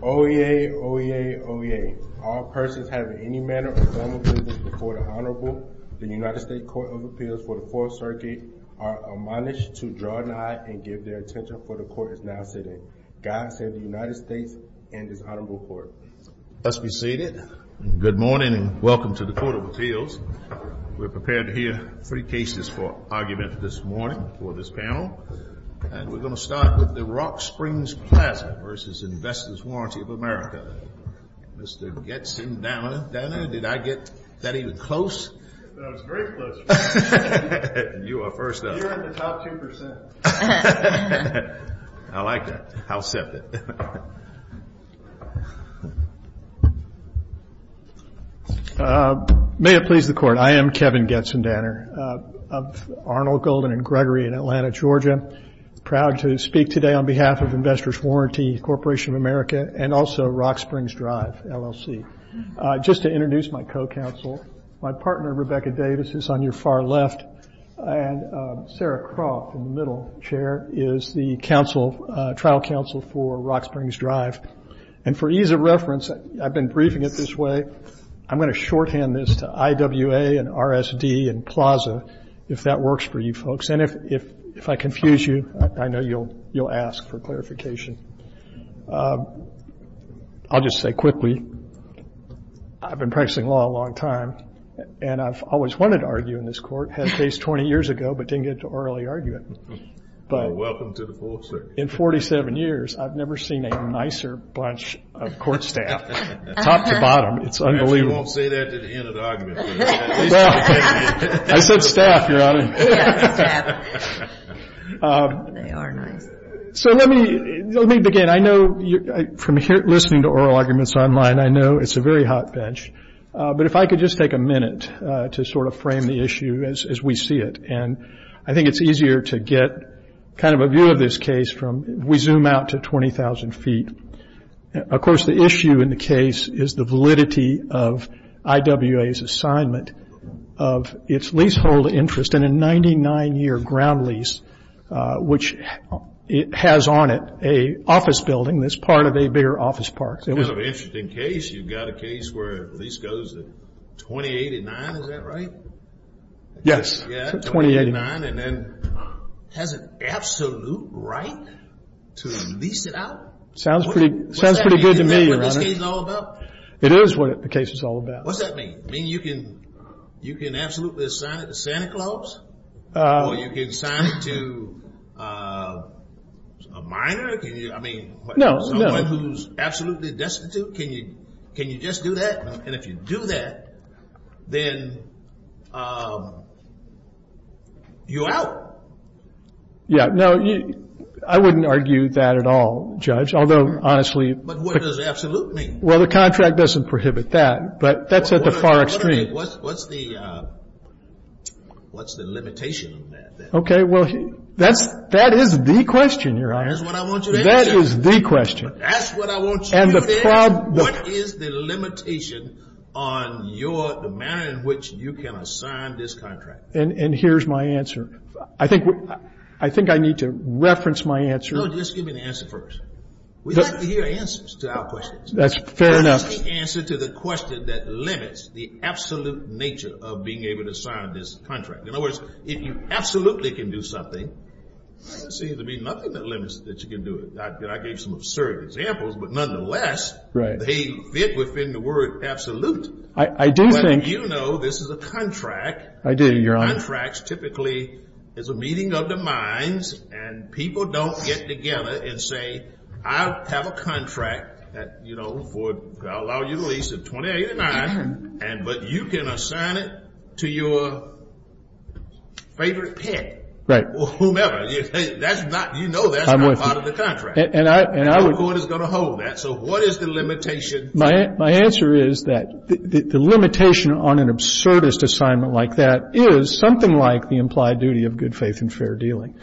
OEA, OEA, OEA, all persons having any manner of formal business before the Honorable, the United States Court of Appeals for the Fourth Circuit, are admonished to draw an eye and give their attention for the Court is now sitting. God save the United States and this Honorable Court. Let's be seated. Good morning and welcome to the Court of Appeals. We're prepared to hear three cases for argument this morning for this panel and we're going to start with the Rock Springs Plaza v. Investors Warranty of America. Mr. Getson-Dana, did I get that even close? No, it was very close. You are first up. You're in the top 2%. I like that. I'll accept it. May it please the Court. I am Kevin Getson-Dana of Arnold, Golden & Gregory in Atlanta, Georgia, proud to speak today on behalf of Investors Warranty Corporation of America and also Rock Springs Drive, LLC. Just to introduce my co-counsel, my partner, Rebecca Davis, is on your far left, and Sarah Croft in the middle, Chair, is the trial counsel for Rock Springs Drive. And for ease of reference, I've been briefing it this way, I'm going to shorthand this to IWA and RSD and Plaza, if that works for you folks. And if I confuse you, I know you'll ask for clarification. I'll just say quickly, I've been practicing law a long time and I've always wanted to argue in this court. I had a case 20 years ago but didn't get to orally argue it. In 47 years, I've never seen a nicer bunch of court staff, top to bottom, it's unbelievable. I said staff, Your Honor. They are nice. Let me begin. From listening to oral arguments online, I know it's a very hot bench, but if I could just take a minute to sort of frame the issue as we see it. And I think it's easier to get kind of a view of this case from, we zoom out to 20,000 feet. Of course, the issue in the case is the validity of IWA's assignment of its leasehold interest in a 99-year ground lease, which has on it an office building that's part of a bigger office park. It's kind of an interesting case. You've got a case where a lease goes to 2089, is that right? Yes, 2089. Yeah, 2089 and then has an absolute right to lease it out? Sounds pretty good to me, Your Honor. Isn't that what this case is all about? It is what the case is all about. What's that mean? You can absolutely assign it to Santa Claus or you can assign it to a minor? I mean, someone who's absolutely destitute, can you just do that? And if you do that, then you're out. Yeah. No, I wouldn't argue that at all, Judge, although honestly- But what does absolute mean? Well, the contract doesn't prohibit that, but that's at the far extreme. What's the limitation of that then? Okay, well, that is the question, Your Honor. That is what I want you to answer. That is the question. That's what I want you to answer. And the problem- What is the limitation on your, the manner in which you can assign this contract? And here's my answer. I think I need to reference my answer. No, just give me the answer first. We have to hear answers to our questions. That's fair enough. What is the answer to the question that limits the absolute nature of being able to sign this contract? In other words, if you absolutely can do something, there seems to be nothing that limits that you can do it. I gave some absurd examples, but nonetheless, they fit within the word absolute. I do think- But you know this is a contract. I do, Your Honor. Contracts typically is a meeting of the minds, and people don't get together and say, I have a contract that, you know, I'll allow you to lease at 20.89, but you can assign it to your favorite pet. Right. Whomever. That's not, you know that's not part of the contract. And I would- No court is going to hold that. So what is the limitation? My answer is that the limitation on an absurdist assignment like that is something like the implied duty of good faith and fair dealing.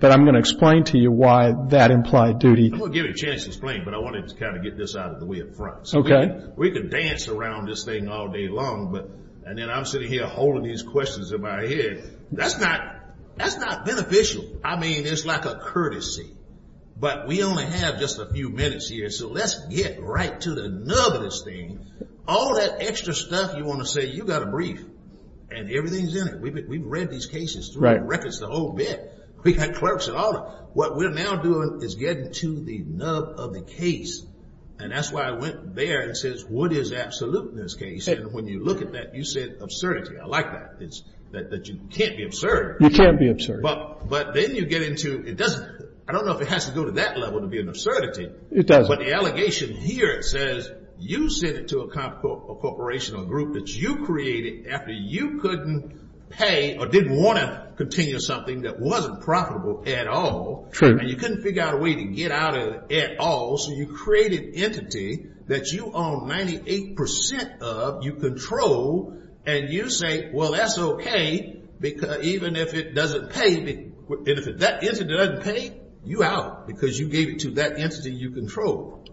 But I'm going to explain to you why that implied duty- I'm going to give you a chance to explain, but I wanted to kind of get this out of the way up front. Okay. So we could dance around this thing all day long, and then I'm sitting here holding these questions in my head. That's not beneficial. I mean, it's like a courtesy. But we only have just a few minutes here, so let's get right to the nub of this thing. All that extra stuff you want to say, you've got to brief, and everything's in it. We've read these cases. Right. We've read the records, the whole bit. We've had clerks and all that. What we're now doing is getting to the nub of the case, and that's why I went there and said, what is absolute in this case? And when you look at that, you said absurdity. I like that. That you can't be absurd. You can't be absurd. But then you get into- I don't know if it has to go to that level to be an absurdity. It doesn't. But the allegation here says you sent it to a corporation or group that you created after you couldn't pay or didn't want to continue something that wasn't profitable at all. True. And you couldn't figure out a way to get out of it at all, so you created an entity that you own 98 percent of, you control, and you say, well, that's okay, even if it doesn't pay me. And if that entity doesn't pay, you're out, because you gave it to that entity you control.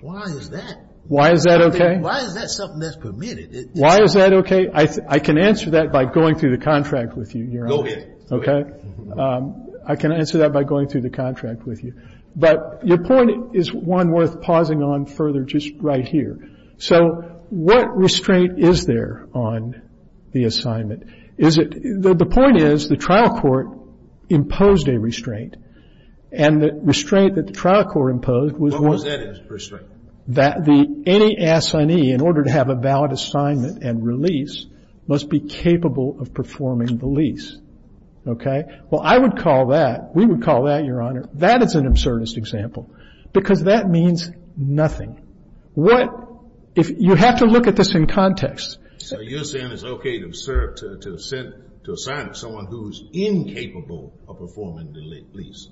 Why is that? Why is that okay? Why is that something that's permitted? Why is that okay? I can answer that by going through the contract with you, Your Honor. Go ahead. Okay? I can answer that by going through the contract with you. But your point is one worth pausing on further just right here. So what restraint is there on the assignment? Is it the point is the trial court imposed a restraint, and the restraint that the trial court imposed was- What was that restraint? That any assignee, in order to have a valid assignment and release, must be capable of performing the lease. Okay? Well, I would call that, we would call that, Your Honor, that is an absurdist example, because that means nothing. What- you have to look at this in context. So you're saying it's okay to serve, to assign someone who's incapable of performing the lease?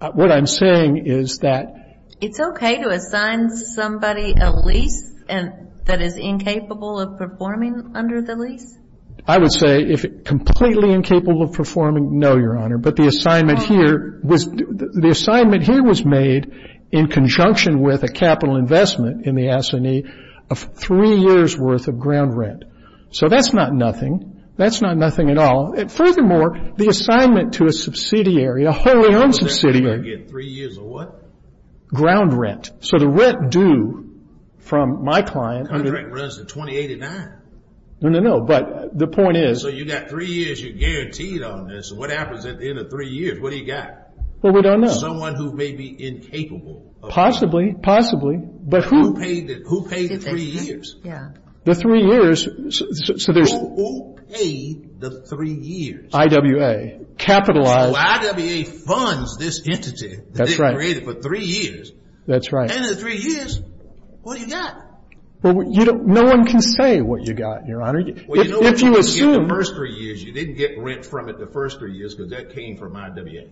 What I'm saying is that- It's okay to assign somebody a lease that is incapable of performing under the lease? I would say if completely incapable of performing, no, Your Honor. But the assignment here was- the assignment here was made in conjunction with a capital investment in the assignee of three years worth of ground rent. So that's not nothing. That's not nothing at all. And furthermore, the assignment to a subsidiary, a wholly owned subsidiary- Three years of what? Ground rent. So the rent due from my client- The contract runs to 2089. No, no, no. But the point is- So you got three years. You're guaranteed on this. And what happens at the end of three years? What do you got? Well, we don't know. Someone who may be incapable of- Possibly. But who- Who paid the three years? Yeah. The three years- So there's- Who paid the three years? IWA. Capitalized- So IWA funds this entity- That's right. That they created for three years. That's right. And in three years, what do you got? Well, you don't- no one can say what you got, Your Honor. If you assume- Well, you know what you didn't get the first three years? You didn't get rent from it the first three years because that came from IWA.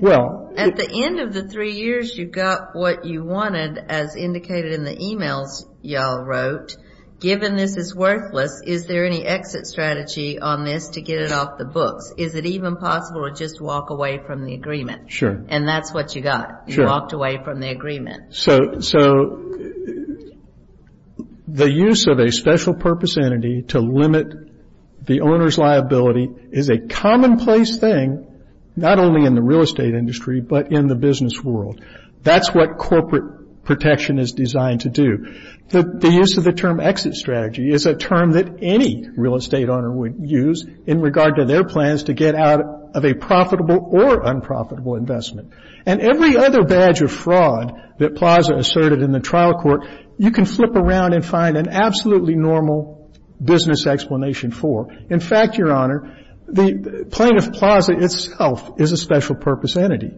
Well- At the end of the three years, you got what you wanted as indicated in the emails y'all wrote. Given this is worthless, is there any exit strategy on this to get it off the books? Is it even possible to just walk away from the agreement? Sure. And that's what you got. Sure. You walked away from the agreement. So the use of a special purpose entity to limit the owner's liability is a commonplace thing, not only in the real estate industry but in the business world. That's what corporate protection is designed to do. The use of the term exit strategy is a term that any real estate owner would use in regard to their plans to get out of a profitable or unprofitable investment. And every other badge of fraud that Plaza asserted in the trial court, you can flip around and find an absolutely normal business explanation for. In fact, Your Honor, the plaintiff, Plaza, itself is a special purpose entity.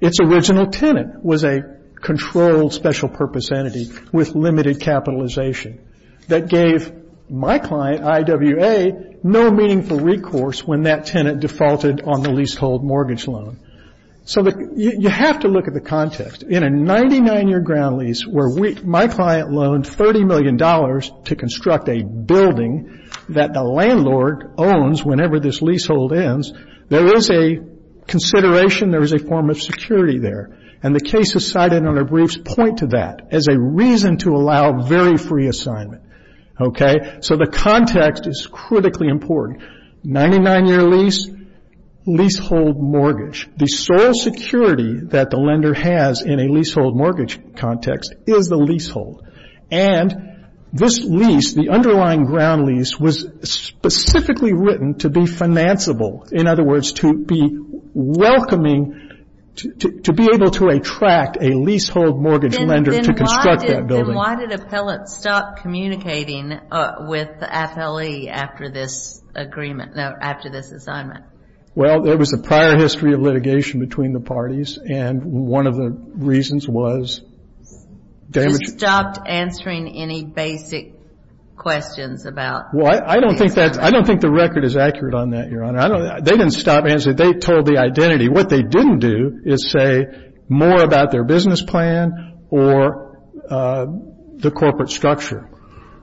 Its original tenant was a controlled special purpose entity with limited capitalization that gave my client, IWA, no meaningful recourse when that tenant defaulted on the leasehold mortgage loan. So you have to look at the context. In a 99-year ground lease where my client loaned $30 million to construct a building that the landlord owns whenever this leasehold ends, there is a consideration, there is a form of security there. And the cases cited in our briefs point to that as a reason to allow very free assignment. Okay? So the context is critically important. 99-year lease, leasehold mortgage. The sole security that the lender has in a leasehold mortgage context is the leasehold. And this lease, the underlying ground lease, was specifically written to be financeable. In other words, to be welcoming, to be able to attract a leasehold mortgage lender to construct that building. And then why did Appellate stop communicating with the FLE after this agreement, after this assignment? Well, there was a prior history of litigation between the parties. And one of the reasons was damage. They stopped answering any basic questions about the assignment. Well, I don't think that's the record is accurate on that, Your Honor. They didn't stop answering. They told the identity. What they didn't do is say more about their business plan or the corporate structure.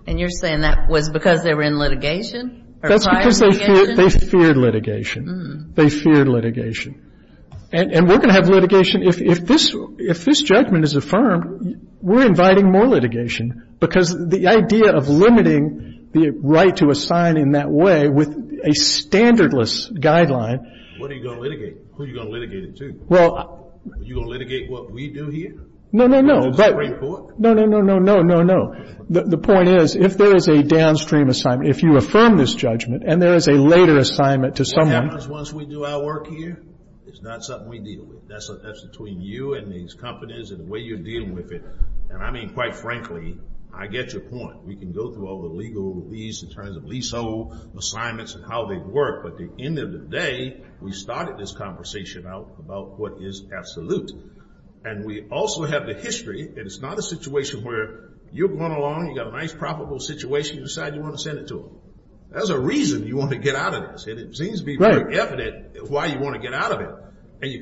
And you're saying that was because they were in litigation? That's because they feared litigation. They feared litigation. And we're going to have litigation. If this judgment is affirmed, we're inviting more litigation. Because the idea of limiting the right to assign in that way with a standardless guideline. What are you going to litigate? Who are you going to litigate it to? Are you going to litigate what we do here? No, no, no. The Supreme Court? No, no, no, no, no, no, no. The point is, if there is a downstream assignment, if you affirm this judgment, and there is a later assignment to someone. Sometimes once we do our work here, it's not something we deal with. That's between you and these companies and the way you're dealing with it. And, I mean, quite frankly, I get your point. We can go through all the legal release in terms of leasehold assignments and how they work. But at the end of the day, we started this conversation out about what is absolute. And we also have the history. And it's not a situation where you're going along. You've got a nice profitable situation. You decide you want to send it to them. There's a reason you want to get out of this. And it seems to be very evident why you want to get out of it. And you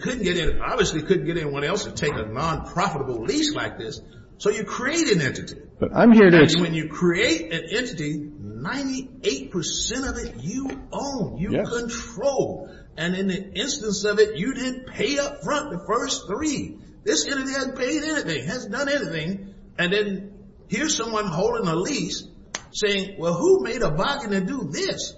obviously couldn't get anyone else to take a non-profitable lease like this. So you create an entity. And when you create an entity, 98% of it you own, you control. And in the instance of it, you didn't pay up front the first three. This entity hasn't paid anything, hasn't done anything. And then here's someone holding a lease saying, well, who made a bargain to do this?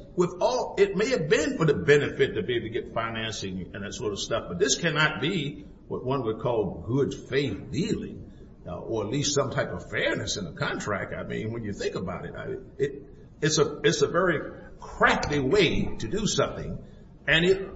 It may have been for the benefit to be able to get financing and that sort of stuff. But this cannot be what one would call good faith dealing or at least some type of fairness in a contract. I mean, when you think about it, it's a very crackly way to do something. And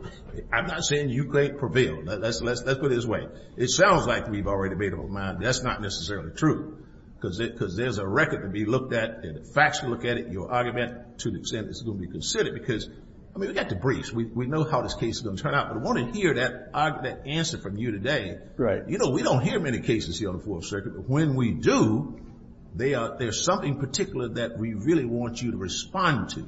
I'm not saying you can't prevail. Let's put it this way. It sounds like we've already made up our mind. That's not necessarily true because there's a record to be looked at and facts to look at it. And your argument to an extent is going to be considered because, I mean, we've got to brief. We know how this case is going to turn out. But I want to hear that answer from you today. Right. You know, we don't hear many cases here on the Fourth Circuit. But when we do, there's something particular that we really want you to respond to.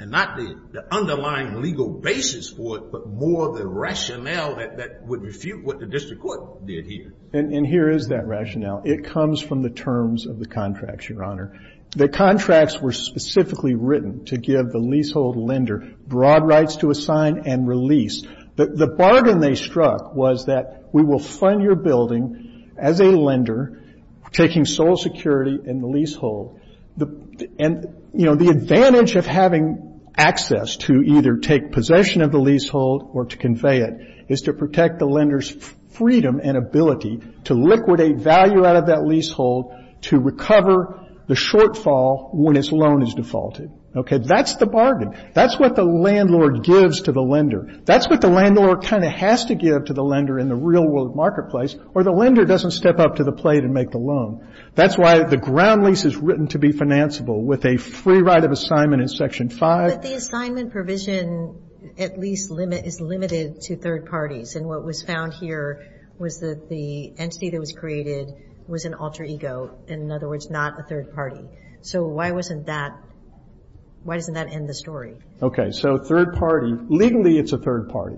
And not the underlying legal basis for it, but more the rationale that would refute what the district court did here. And here is that rationale. It comes from the terms of the contract, Your Honor. The contracts were specifically written to give the leasehold lender broad rights to assign and release. The bargain they struck was that we will fund your building as a lender taking sole security in the leasehold. And, you know, the advantage of having access to either take possession of the leasehold or to convey it is to protect the lender's freedom and ability to liquidate value out of that leasehold to recover the shortfall when its loan is defaulted. Okay? That's the bargain. That's what the landlord gives to the lender. That's what the landlord kind of has to give to the lender in the real world marketplace or the lender doesn't step up to the plate and make the loan. That's why the ground lease is written to be financeable with a free right of assignment in Section 5. But the assignment provision at least is limited to third parties. And what was found here was that the entity that was created was an alter ego. In other words, not a third party. So why wasn't that, why doesn't that end the story? Okay. So third party, legally it's a third party.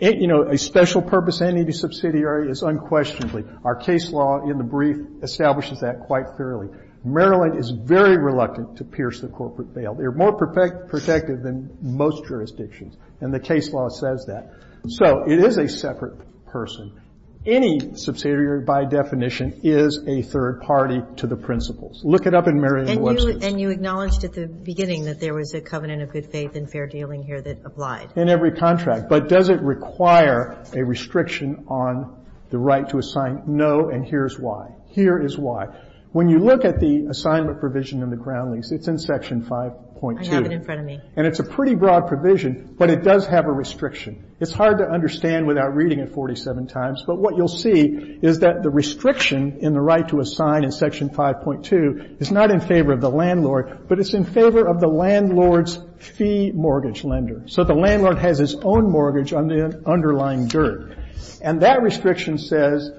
You know, a special purpose entity subsidiary is unquestionably. Our case law in the brief establishes that quite fairly. Maryland is very reluctant to pierce the corporate veil. They're more protective than most jurisdictions. And the case law says that. So it is a separate person. Any subsidiary by definition is a third party to the principles. Look it up in Maryland websites. And you acknowledged at the beginning that there was a covenant of good faith and fair dealing here that applied. In every contract. But does it require a restriction on the right to assign? No. And here's why. Here is why. When you look at the assignment provision in the ground lease, it's in Section 5.2. I have it in front of me. And it's a pretty broad provision, but it does have a restriction. It's hard to understand without reading it 47 times. But what you'll see is that the restriction in the right to assign in Section 5.2 is not in favor of the landlord, but it's in favor of the landlord's fee mortgage lender. So the landlord has his own mortgage on the underlying dirt. And that restriction says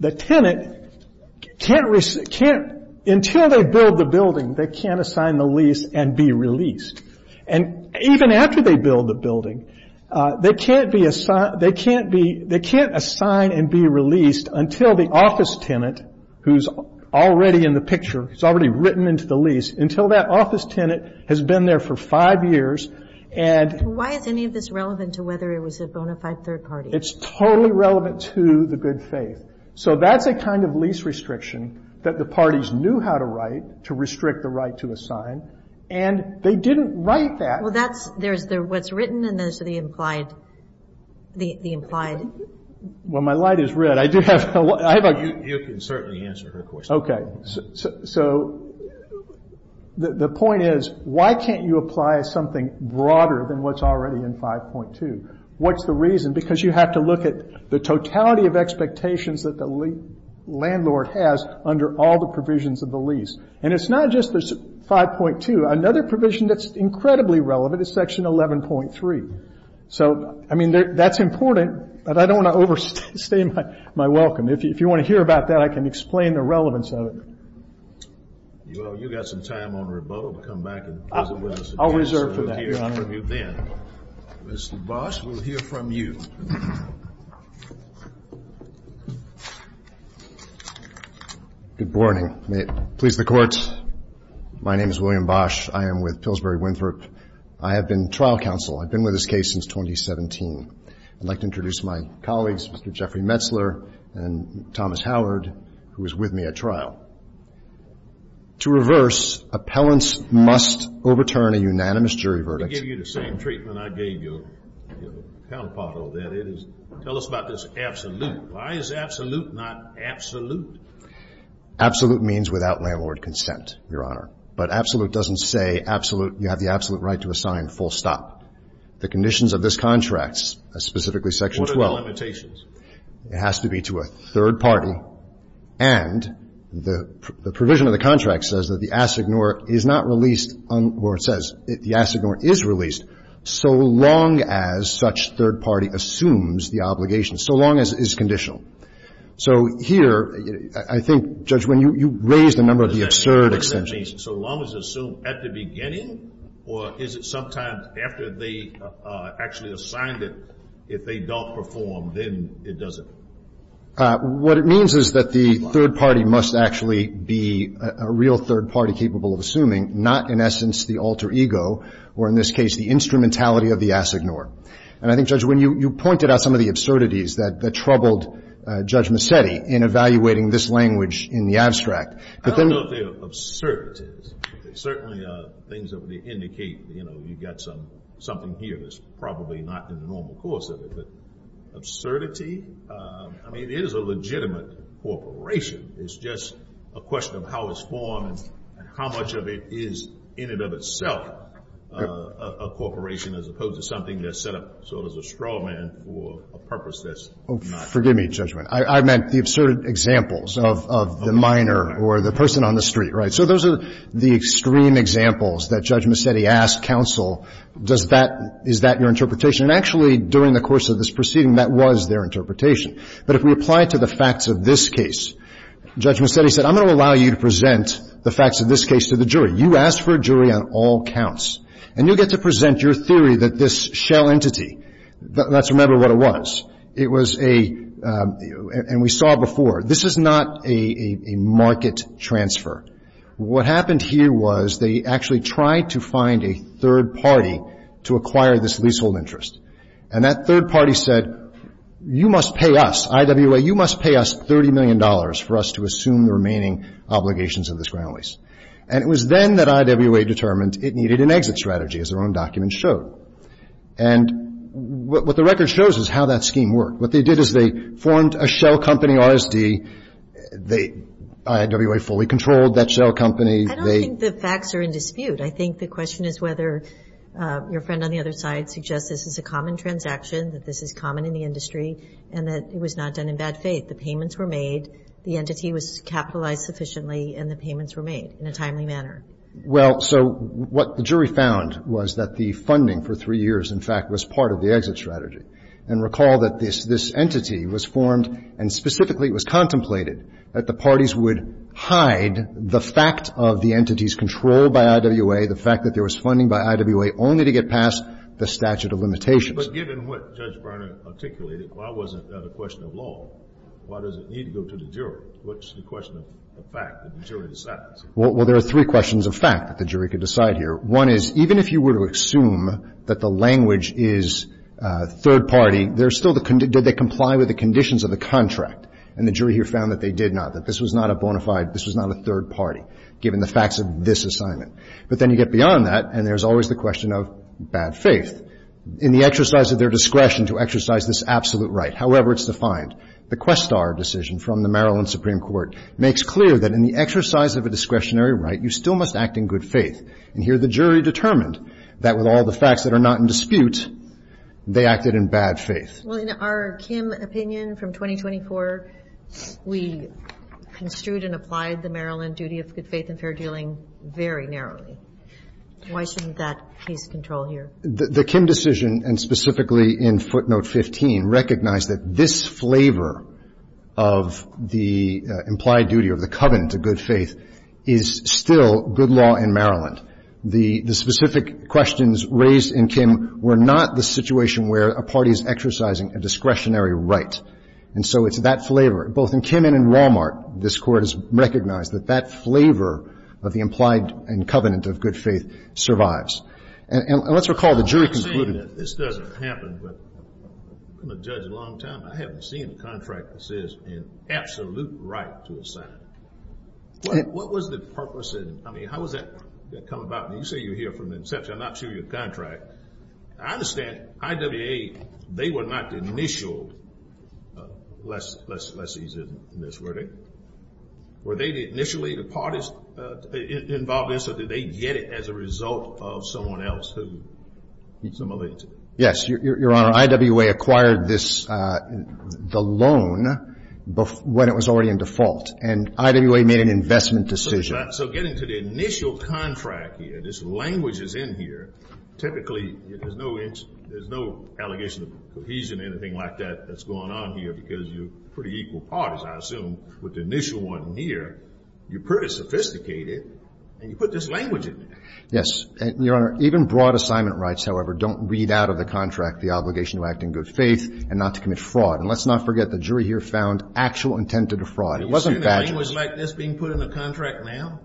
the tenant can't, until they build the building, they can't assign the lease and be released. And even after they build the building, they can't assign and be released until the office tenant, who's already in the picture, who's already written into the lease, until that office tenant has been there for five years. Why is any of this relevant to whether it was a bona fide third party? It's totally relevant to the good faith. So that's a kind of lease restriction that the parties knew how to write to restrict the right to assign. And they didn't write that. Well, there's what's written and there's the implied. Well, my light is red. You can certainly answer her question. Okay. So the point is, why can't you apply something broader than what's already in 5.2? What's the reason? Because you have to look at the totality of expectations that the landlord has under all the provisions of the lease. And it's not just 5.2. Another provision that's incredibly relevant is Section 11.3. So, I mean, that's important, but I don't want to overstay my welcome. If you want to hear about that, I can explain the relevance of it. Well, you've got some time on your boat. Come back and visit with us again. I'll reserve for that, Your Honor. We'll hear from you then. Mr. Boss, we'll hear from you. Good morning. May it please the Court, my name is William Bosch. I am with Pillsbury Winthrop. I have been trial counsel. I've been with this case since 2017. I'd like to introduce my colleagues, Mr. Jeffrey Metzler and Thomas Howard, who is with me at trial. To reverse, appellants must overturn a unanimous jury verdict. I'm going to give you the same treatment I gave your counterpart on that. Tell us about this absolute. Why is absolute not absolute? Absolute means without landlord consent, Your Honor. But absolute doesn't say you have the absolute right to assign full stop. The conditions of this contract, specifically Section 12. What are the limitations? It has to be to a third party, and the provision of the contract says that the assignor is not released, or it says the assignor is released, so long as such third party assumes the obligation, so long as it is conditional. So here, I think, Judge Winn, you raised a number of the absurd extensions. So long as it's assumed at the beginning? Or is it sometimes after they actually assigned it, if they don't perform, then it doesn't? What it means is that the third party must actually be a real third party capable of assuming, not, in essence, the alter ego or, in this case, the instrumentality of the assignor. And I think, Judge Winn, you pointed out some of the absurdities that troubled Judge Mazzetti in evaluating this language in the abstract. I don't know if they're absurdities. They certainly are things that would indicate, you know, you've got something here that's probably not in the normal course of it. Absurdity? I mean, it is a legitimate corporation. It's just a question of how it's formed and how much of it is, in and of itself, a corporation, as opposed to something that's set up sort of as a straw man for a purpose that's not. Forgive me, Judge Winn. I meant the absurd examples of the minor or the person on the street, right? So those are the extreme examples that Judge Mazzetti asked counsel, is that your interpretation? And actually, during the course of this proceeding, that was their interpretation. But if we apply it to the facts of this case, Judge Mazzetti said, I'm going to allow you to present the facts of this case to the jury. You asked for a jury on all counts. And you get to present your theory that this shell entity, let's remember what it was. It was a, and we saw before, this is not a market transfer. What happened here was they actually tried to find a third party to acquire this leasehold interest. And that third party said, you must pay us, IWA, you must pay us $30 million for us to assume the remaining obligations of this ground lease. And it was then that IWA determined it needed an exit strategy, as their own documents showed. And what the record shows is how that scheme worked. What they did is they formed a shell company, RSD. They, IWA fully controlled that shell company. I don't think the facts are in dispute. I think the question is whether your friend on the other side suggests this is a common transaction, that this is common in the industry, and that it was not done in bad faith. The payments were made, the entity was capitalized sufficiently, and the payments were made in a timely manner. Well, so what the jury found was that the funding for three years, in fact, was part of the exit strategy. And recall that this entity was formed, and specifically it was contemplated, that the parties would hide the fact of the entity's control by IWA, the fact that there was funding by IWA only to get past the statute of limitations. But given what Judge Barnard articulated, why wasn't that a question of law? Why does it need to go to the jury? What's the question of fact that the jury decides? Well, there are three questions of fact that the jury could decide here. One is, even if you were to assume that the language is third party, did they comply with the conditions of the contract? And the jury here found that they did not, that this was not a bona fide, this was not a third party, given the facts of this assignment. But then you get beyond that, and there's always the question of bad faith. In the exercise of their discretion to exercise this absolute right, however it's defined, the Questar decision from the Maryland Supreme Court makes clear that in the exercise of a discretionary right, you still must act in good faith. And here the jury determined that with all the facts that are not in dispute, they acted in bad faith. Well, in our Kim opinion from 2024, we construed and applied the Maryland duty of good faith and fair dealing very narrowly. Why shouldn't that be its control here? The Kim decision, and specifically in footnote 15, recognized that this flavor of the implied duty of the covenant of good faith is still good law in Maryland. The specific questions raised in Kim were not the situation where a party is exercising a discretionary right. And so it's that flavor, both in Kim and in Walmart, this Court has recognized that that flavor of the implied and covenant of good faith survives. And let's recall the jury concluded. I'm not saying that this doesn't happen, but I'm a judge a long time, I haven't seen a contract that says an absolute right to assign. What was the purpose? I mean, how does that come about? You say you're here from inception. I'm not sure of your contract. I understand IWA, they were not the initial lessee in this verdict. Were they initially the parties involved in this, or did they get it as a result of someone else who simulates it? Yes, Your Honor. IWA acquired this, the loan, when it was already in default. And IWA made an investment decision. So getting to the initial contract here, this language is in here, typically there's no allegation of cohesion or anything like that that's going on here because you're pretty equal parties, I assume, with the initial one here. You're pretty sophisticated, and you put this language in there. Yes. Your Honor, even broad assignment rights, however, don't read out of the contract the obligation to act in good faith and not to commit fraud. And let's not forget the jury here found actual intent to defraud. It wasn't badgering. You see a language like this being put in a contract now?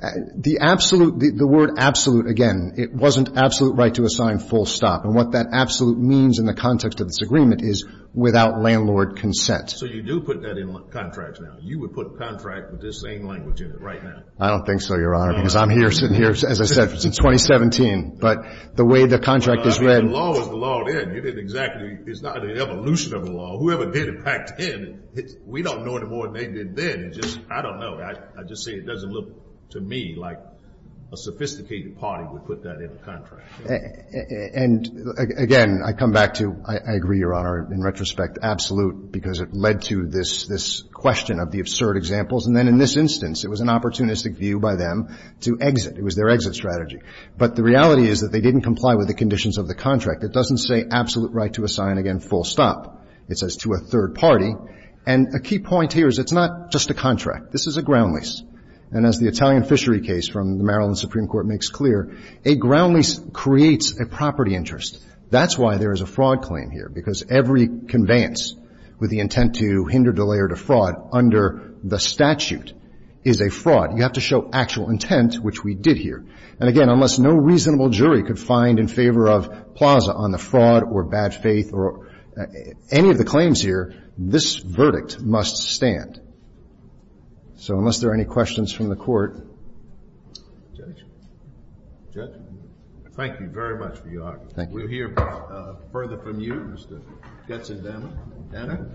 The word absolute, again, it wasn't absolute right to assign full stop. And what that absolute means in the context of this agreement is without landlord consent. So you do put that in contracts now. You would put contract with this same language in it right now. I don't think so, Your Honor. Because I'm here sitting here, as I said, since 2017. But the way the contract is read. The law is the law then. You didn't exactly. It's not an evolution of the law. Whoever did it backed in. We don't know any more than they did then. It's just, I don't know. I just say it doesn't look to me like a sophisticated party would put that in a contract. And, again, I come back to, I agree, Your Honor, in retrospect, absolute because it led to this question of the absurd examples. And then in this instance, it was an opportunistic view by them to exit. It was their exit strategy. But the reality is that they didn't comply with the conditions of the contract. It doesn't say absolute right to assign, again, full stop. It says to a third party. And a key point here is it's not just a contract. This is a ground lease. And as the Italian fishery case from the Maryland Supreme Court makes clear, a ground lease creates a property interest. That's why there is a fraud claim here. Because every conveyance with the intent to hinder, delay, or defraud under the statute is a fraud. You have to show actual intent, which we did here. And, again, unless no reasonable jury could find in favor of Plaza on the fraud or bad faith or any of the claims here, this verdict must stand. So unless there are any questions from the Court. Judge? Judge? Thank you very much for your argument. Thank you. We'll hear further from you, Mr. Getzendammer. Anna?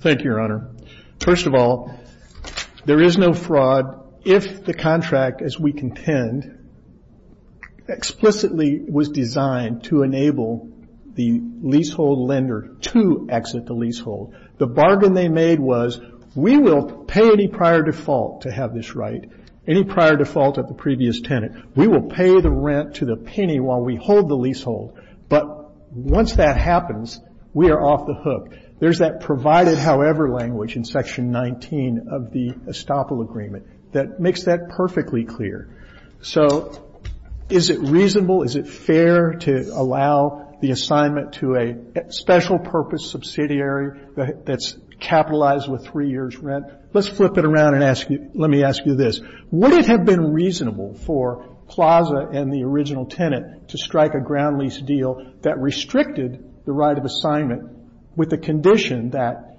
Thank you, Your Honor. First of all, there is no fraud if the contract, as we contend, explicitly was designed to enable the leasehold lender to exit the leasehold. The bargain they made was we will pay any prior default to have this right, any prior default at the previous tenant. We will pay the rent to the penny while we hold the leasehold. But once that happens, we are off the hook. There's that provided however language in Section 19 of the estoppel agreement that makes that perfectly clear. So is it reasonable, is it fair to allow the assignment to a special purpose subsidiary that's capitalized with three years' rent? Let's flip it around and let me ask you this. Would it have been reasonable for Plaza and the original tenant to strike a ground lease deal that restricted the right of assignment with the condition that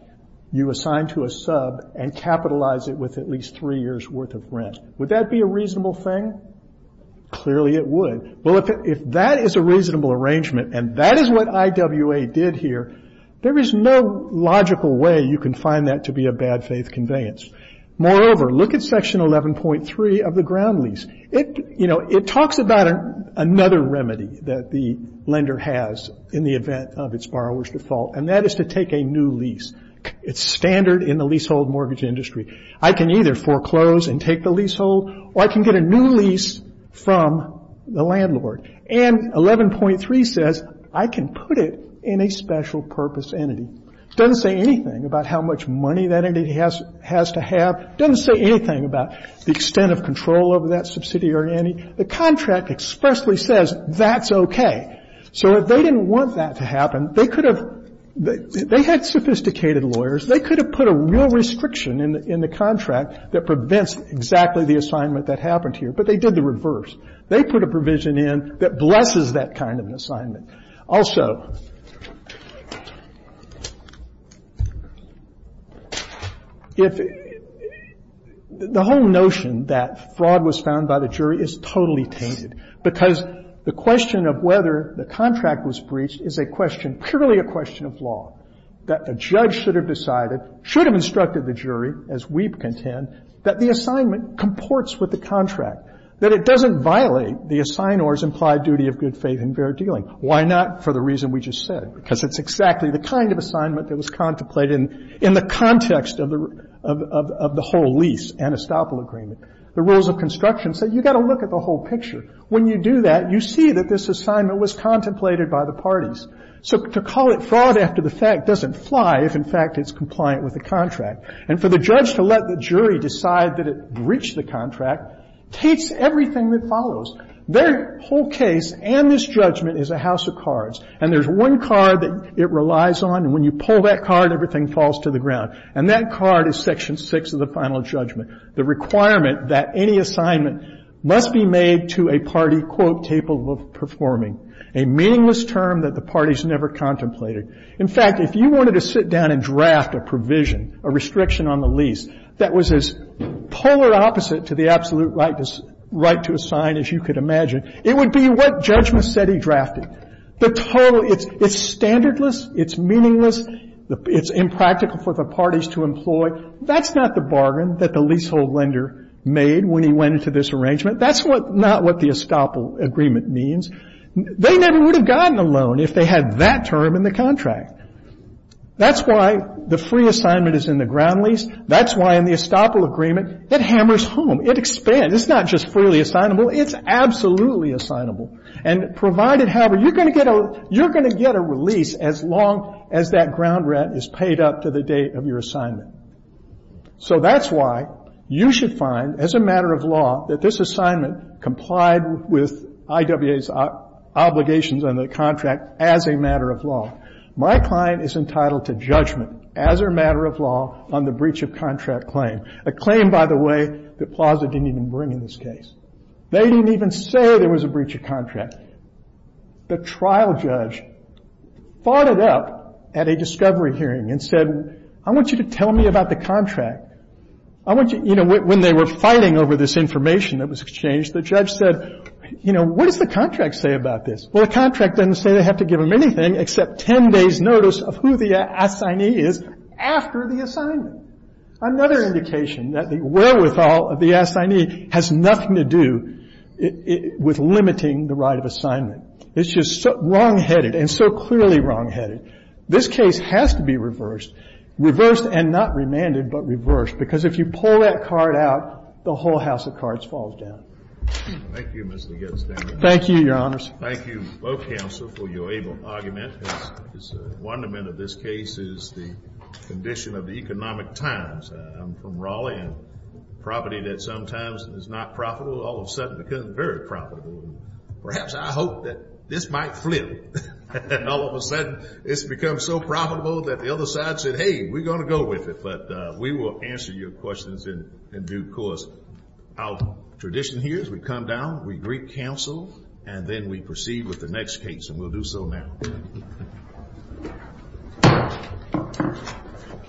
you assign to a sub and capitalize it with at least three years' worth of rent? Would that be a reasonable thing? Clearly it would. Well, if that is a reasonable arrangement and that is what IWA did here, there is no logical way you can find that to be a bad faith conveyance. Moreover, look at Section 11.3 of the ground lease. It talks about another remedy that the lender has in the event of its borrower's default, and that is to take a new lease. It's standard in the leasehold mortgage industry. I can either foreclose and take the leasehold or I can get a new lease from the landlord. And 11.3 says I can put it in a special purpose entity. It doesn't say anything about how much money that entity has to have. It doesn't say anything about the extent of control over that subsidiary entity. The contract expressly says that's okay. So if they didn't want that to happen, they could have they had sophisticated lawyers. They could have put a real restriction in the contract that prevents exactly the assignment that happened here, but they did the reverse. They put a provision in that blesses that kind of an assignment. Also, if the whole notion that fraud was found by the jury is totally tainted, because the question of whether the contract was breached is a question, purely a question of law, that the judge should have decided, should have instructed the jury, as we contend, that the assignment comports with the contract, that it doesn't violate the assignor's implied duty of good faith and fair dealing. Why not for the reason we just said? Because it's exactly the kind of assignment that was contemplated in the context of the whole lease, Anistopol Agreement. The rules of construction say you've got to look at the whole picture. When you do that, you see that this assignment was contemplated by the parties. So to call it fraud after the fact doesn't fly if, in fact, it's compliant with the contract. And for the judge to let the jury decide that it breached the contract takes everything that follows. Their whole case and this judgment is a house of cards. And there's one card that it relies on. And when you pull that card, everything falls to the ground. And that card is Section 6 of the final judgment, the requirement that any assignment must be made to a party, quote, table of performing, a meaningless term that the parties never contemplated. In fact, if you wanted to sit down and draft a provision, a restriction on the lease that was as polar opposite to the absolute right to assign as you could imagine, it would be what Judge Macedi drafted. The total, it's standardless, it's meaningless, it's impractical for the parties to employ. That's not the bargain that the leasehold lender made when he went into this arrangement. That's not what the estoppel agreement means. They never would have gotten a loan if they had that term in the contract. That's why the free assignment is in the ground lease. That's why in the estoppel agreement it hammers home. It expands. It's not just freely assignable. It's absolutely assignable. And provided, however, you're going to get a release as long as that ground rent is paid up to the date of your assignment. So that's why you should find as a matter of law that this assignment complied with IWA's obligations on the contract as a matter of law. My client is entitled to judgment as a matter of law on the breach of contract claim, a claim, by the way, that Plaza didn't even bring in this case. They didn't even say there was a breach of contract. The trial judge fought it up at a discovery hearing and said, I want you to tell me about the contract. I want you, you know, when they were fighting over this information that was exchanged, the judge said, you know, what does the contract say about this? Well, the contract doesn't say they have to give them anything except 10 days' notice of who the assignee is after the assignment. Another indication that the wherewithal of the assignee has nothing to do with limiting the right of assignment. It's just wrongheaded and so clearly wrongheaded. This case has to be reversed, reversed and not remanded, but reversed, because if you pull that card out, the whole house of cards falls down. Thank you, Mr. Gettys. Thank you, Your Honors. Thank you, both counsel, for your able argument. The wonderment of this case is the condition of the economic times. I'm from Raleigh, a property that sometimes is not profitable all of a sudden becomes very profitable. Perhaps I hope that this might flip and all of a sudden it's become so profitable that the other side said, hey, we're going to go with it, but we will answer your questions in due course. Our tradition here is we come down, we greet counsel, and then we proceed with the next case, and we'll do so now.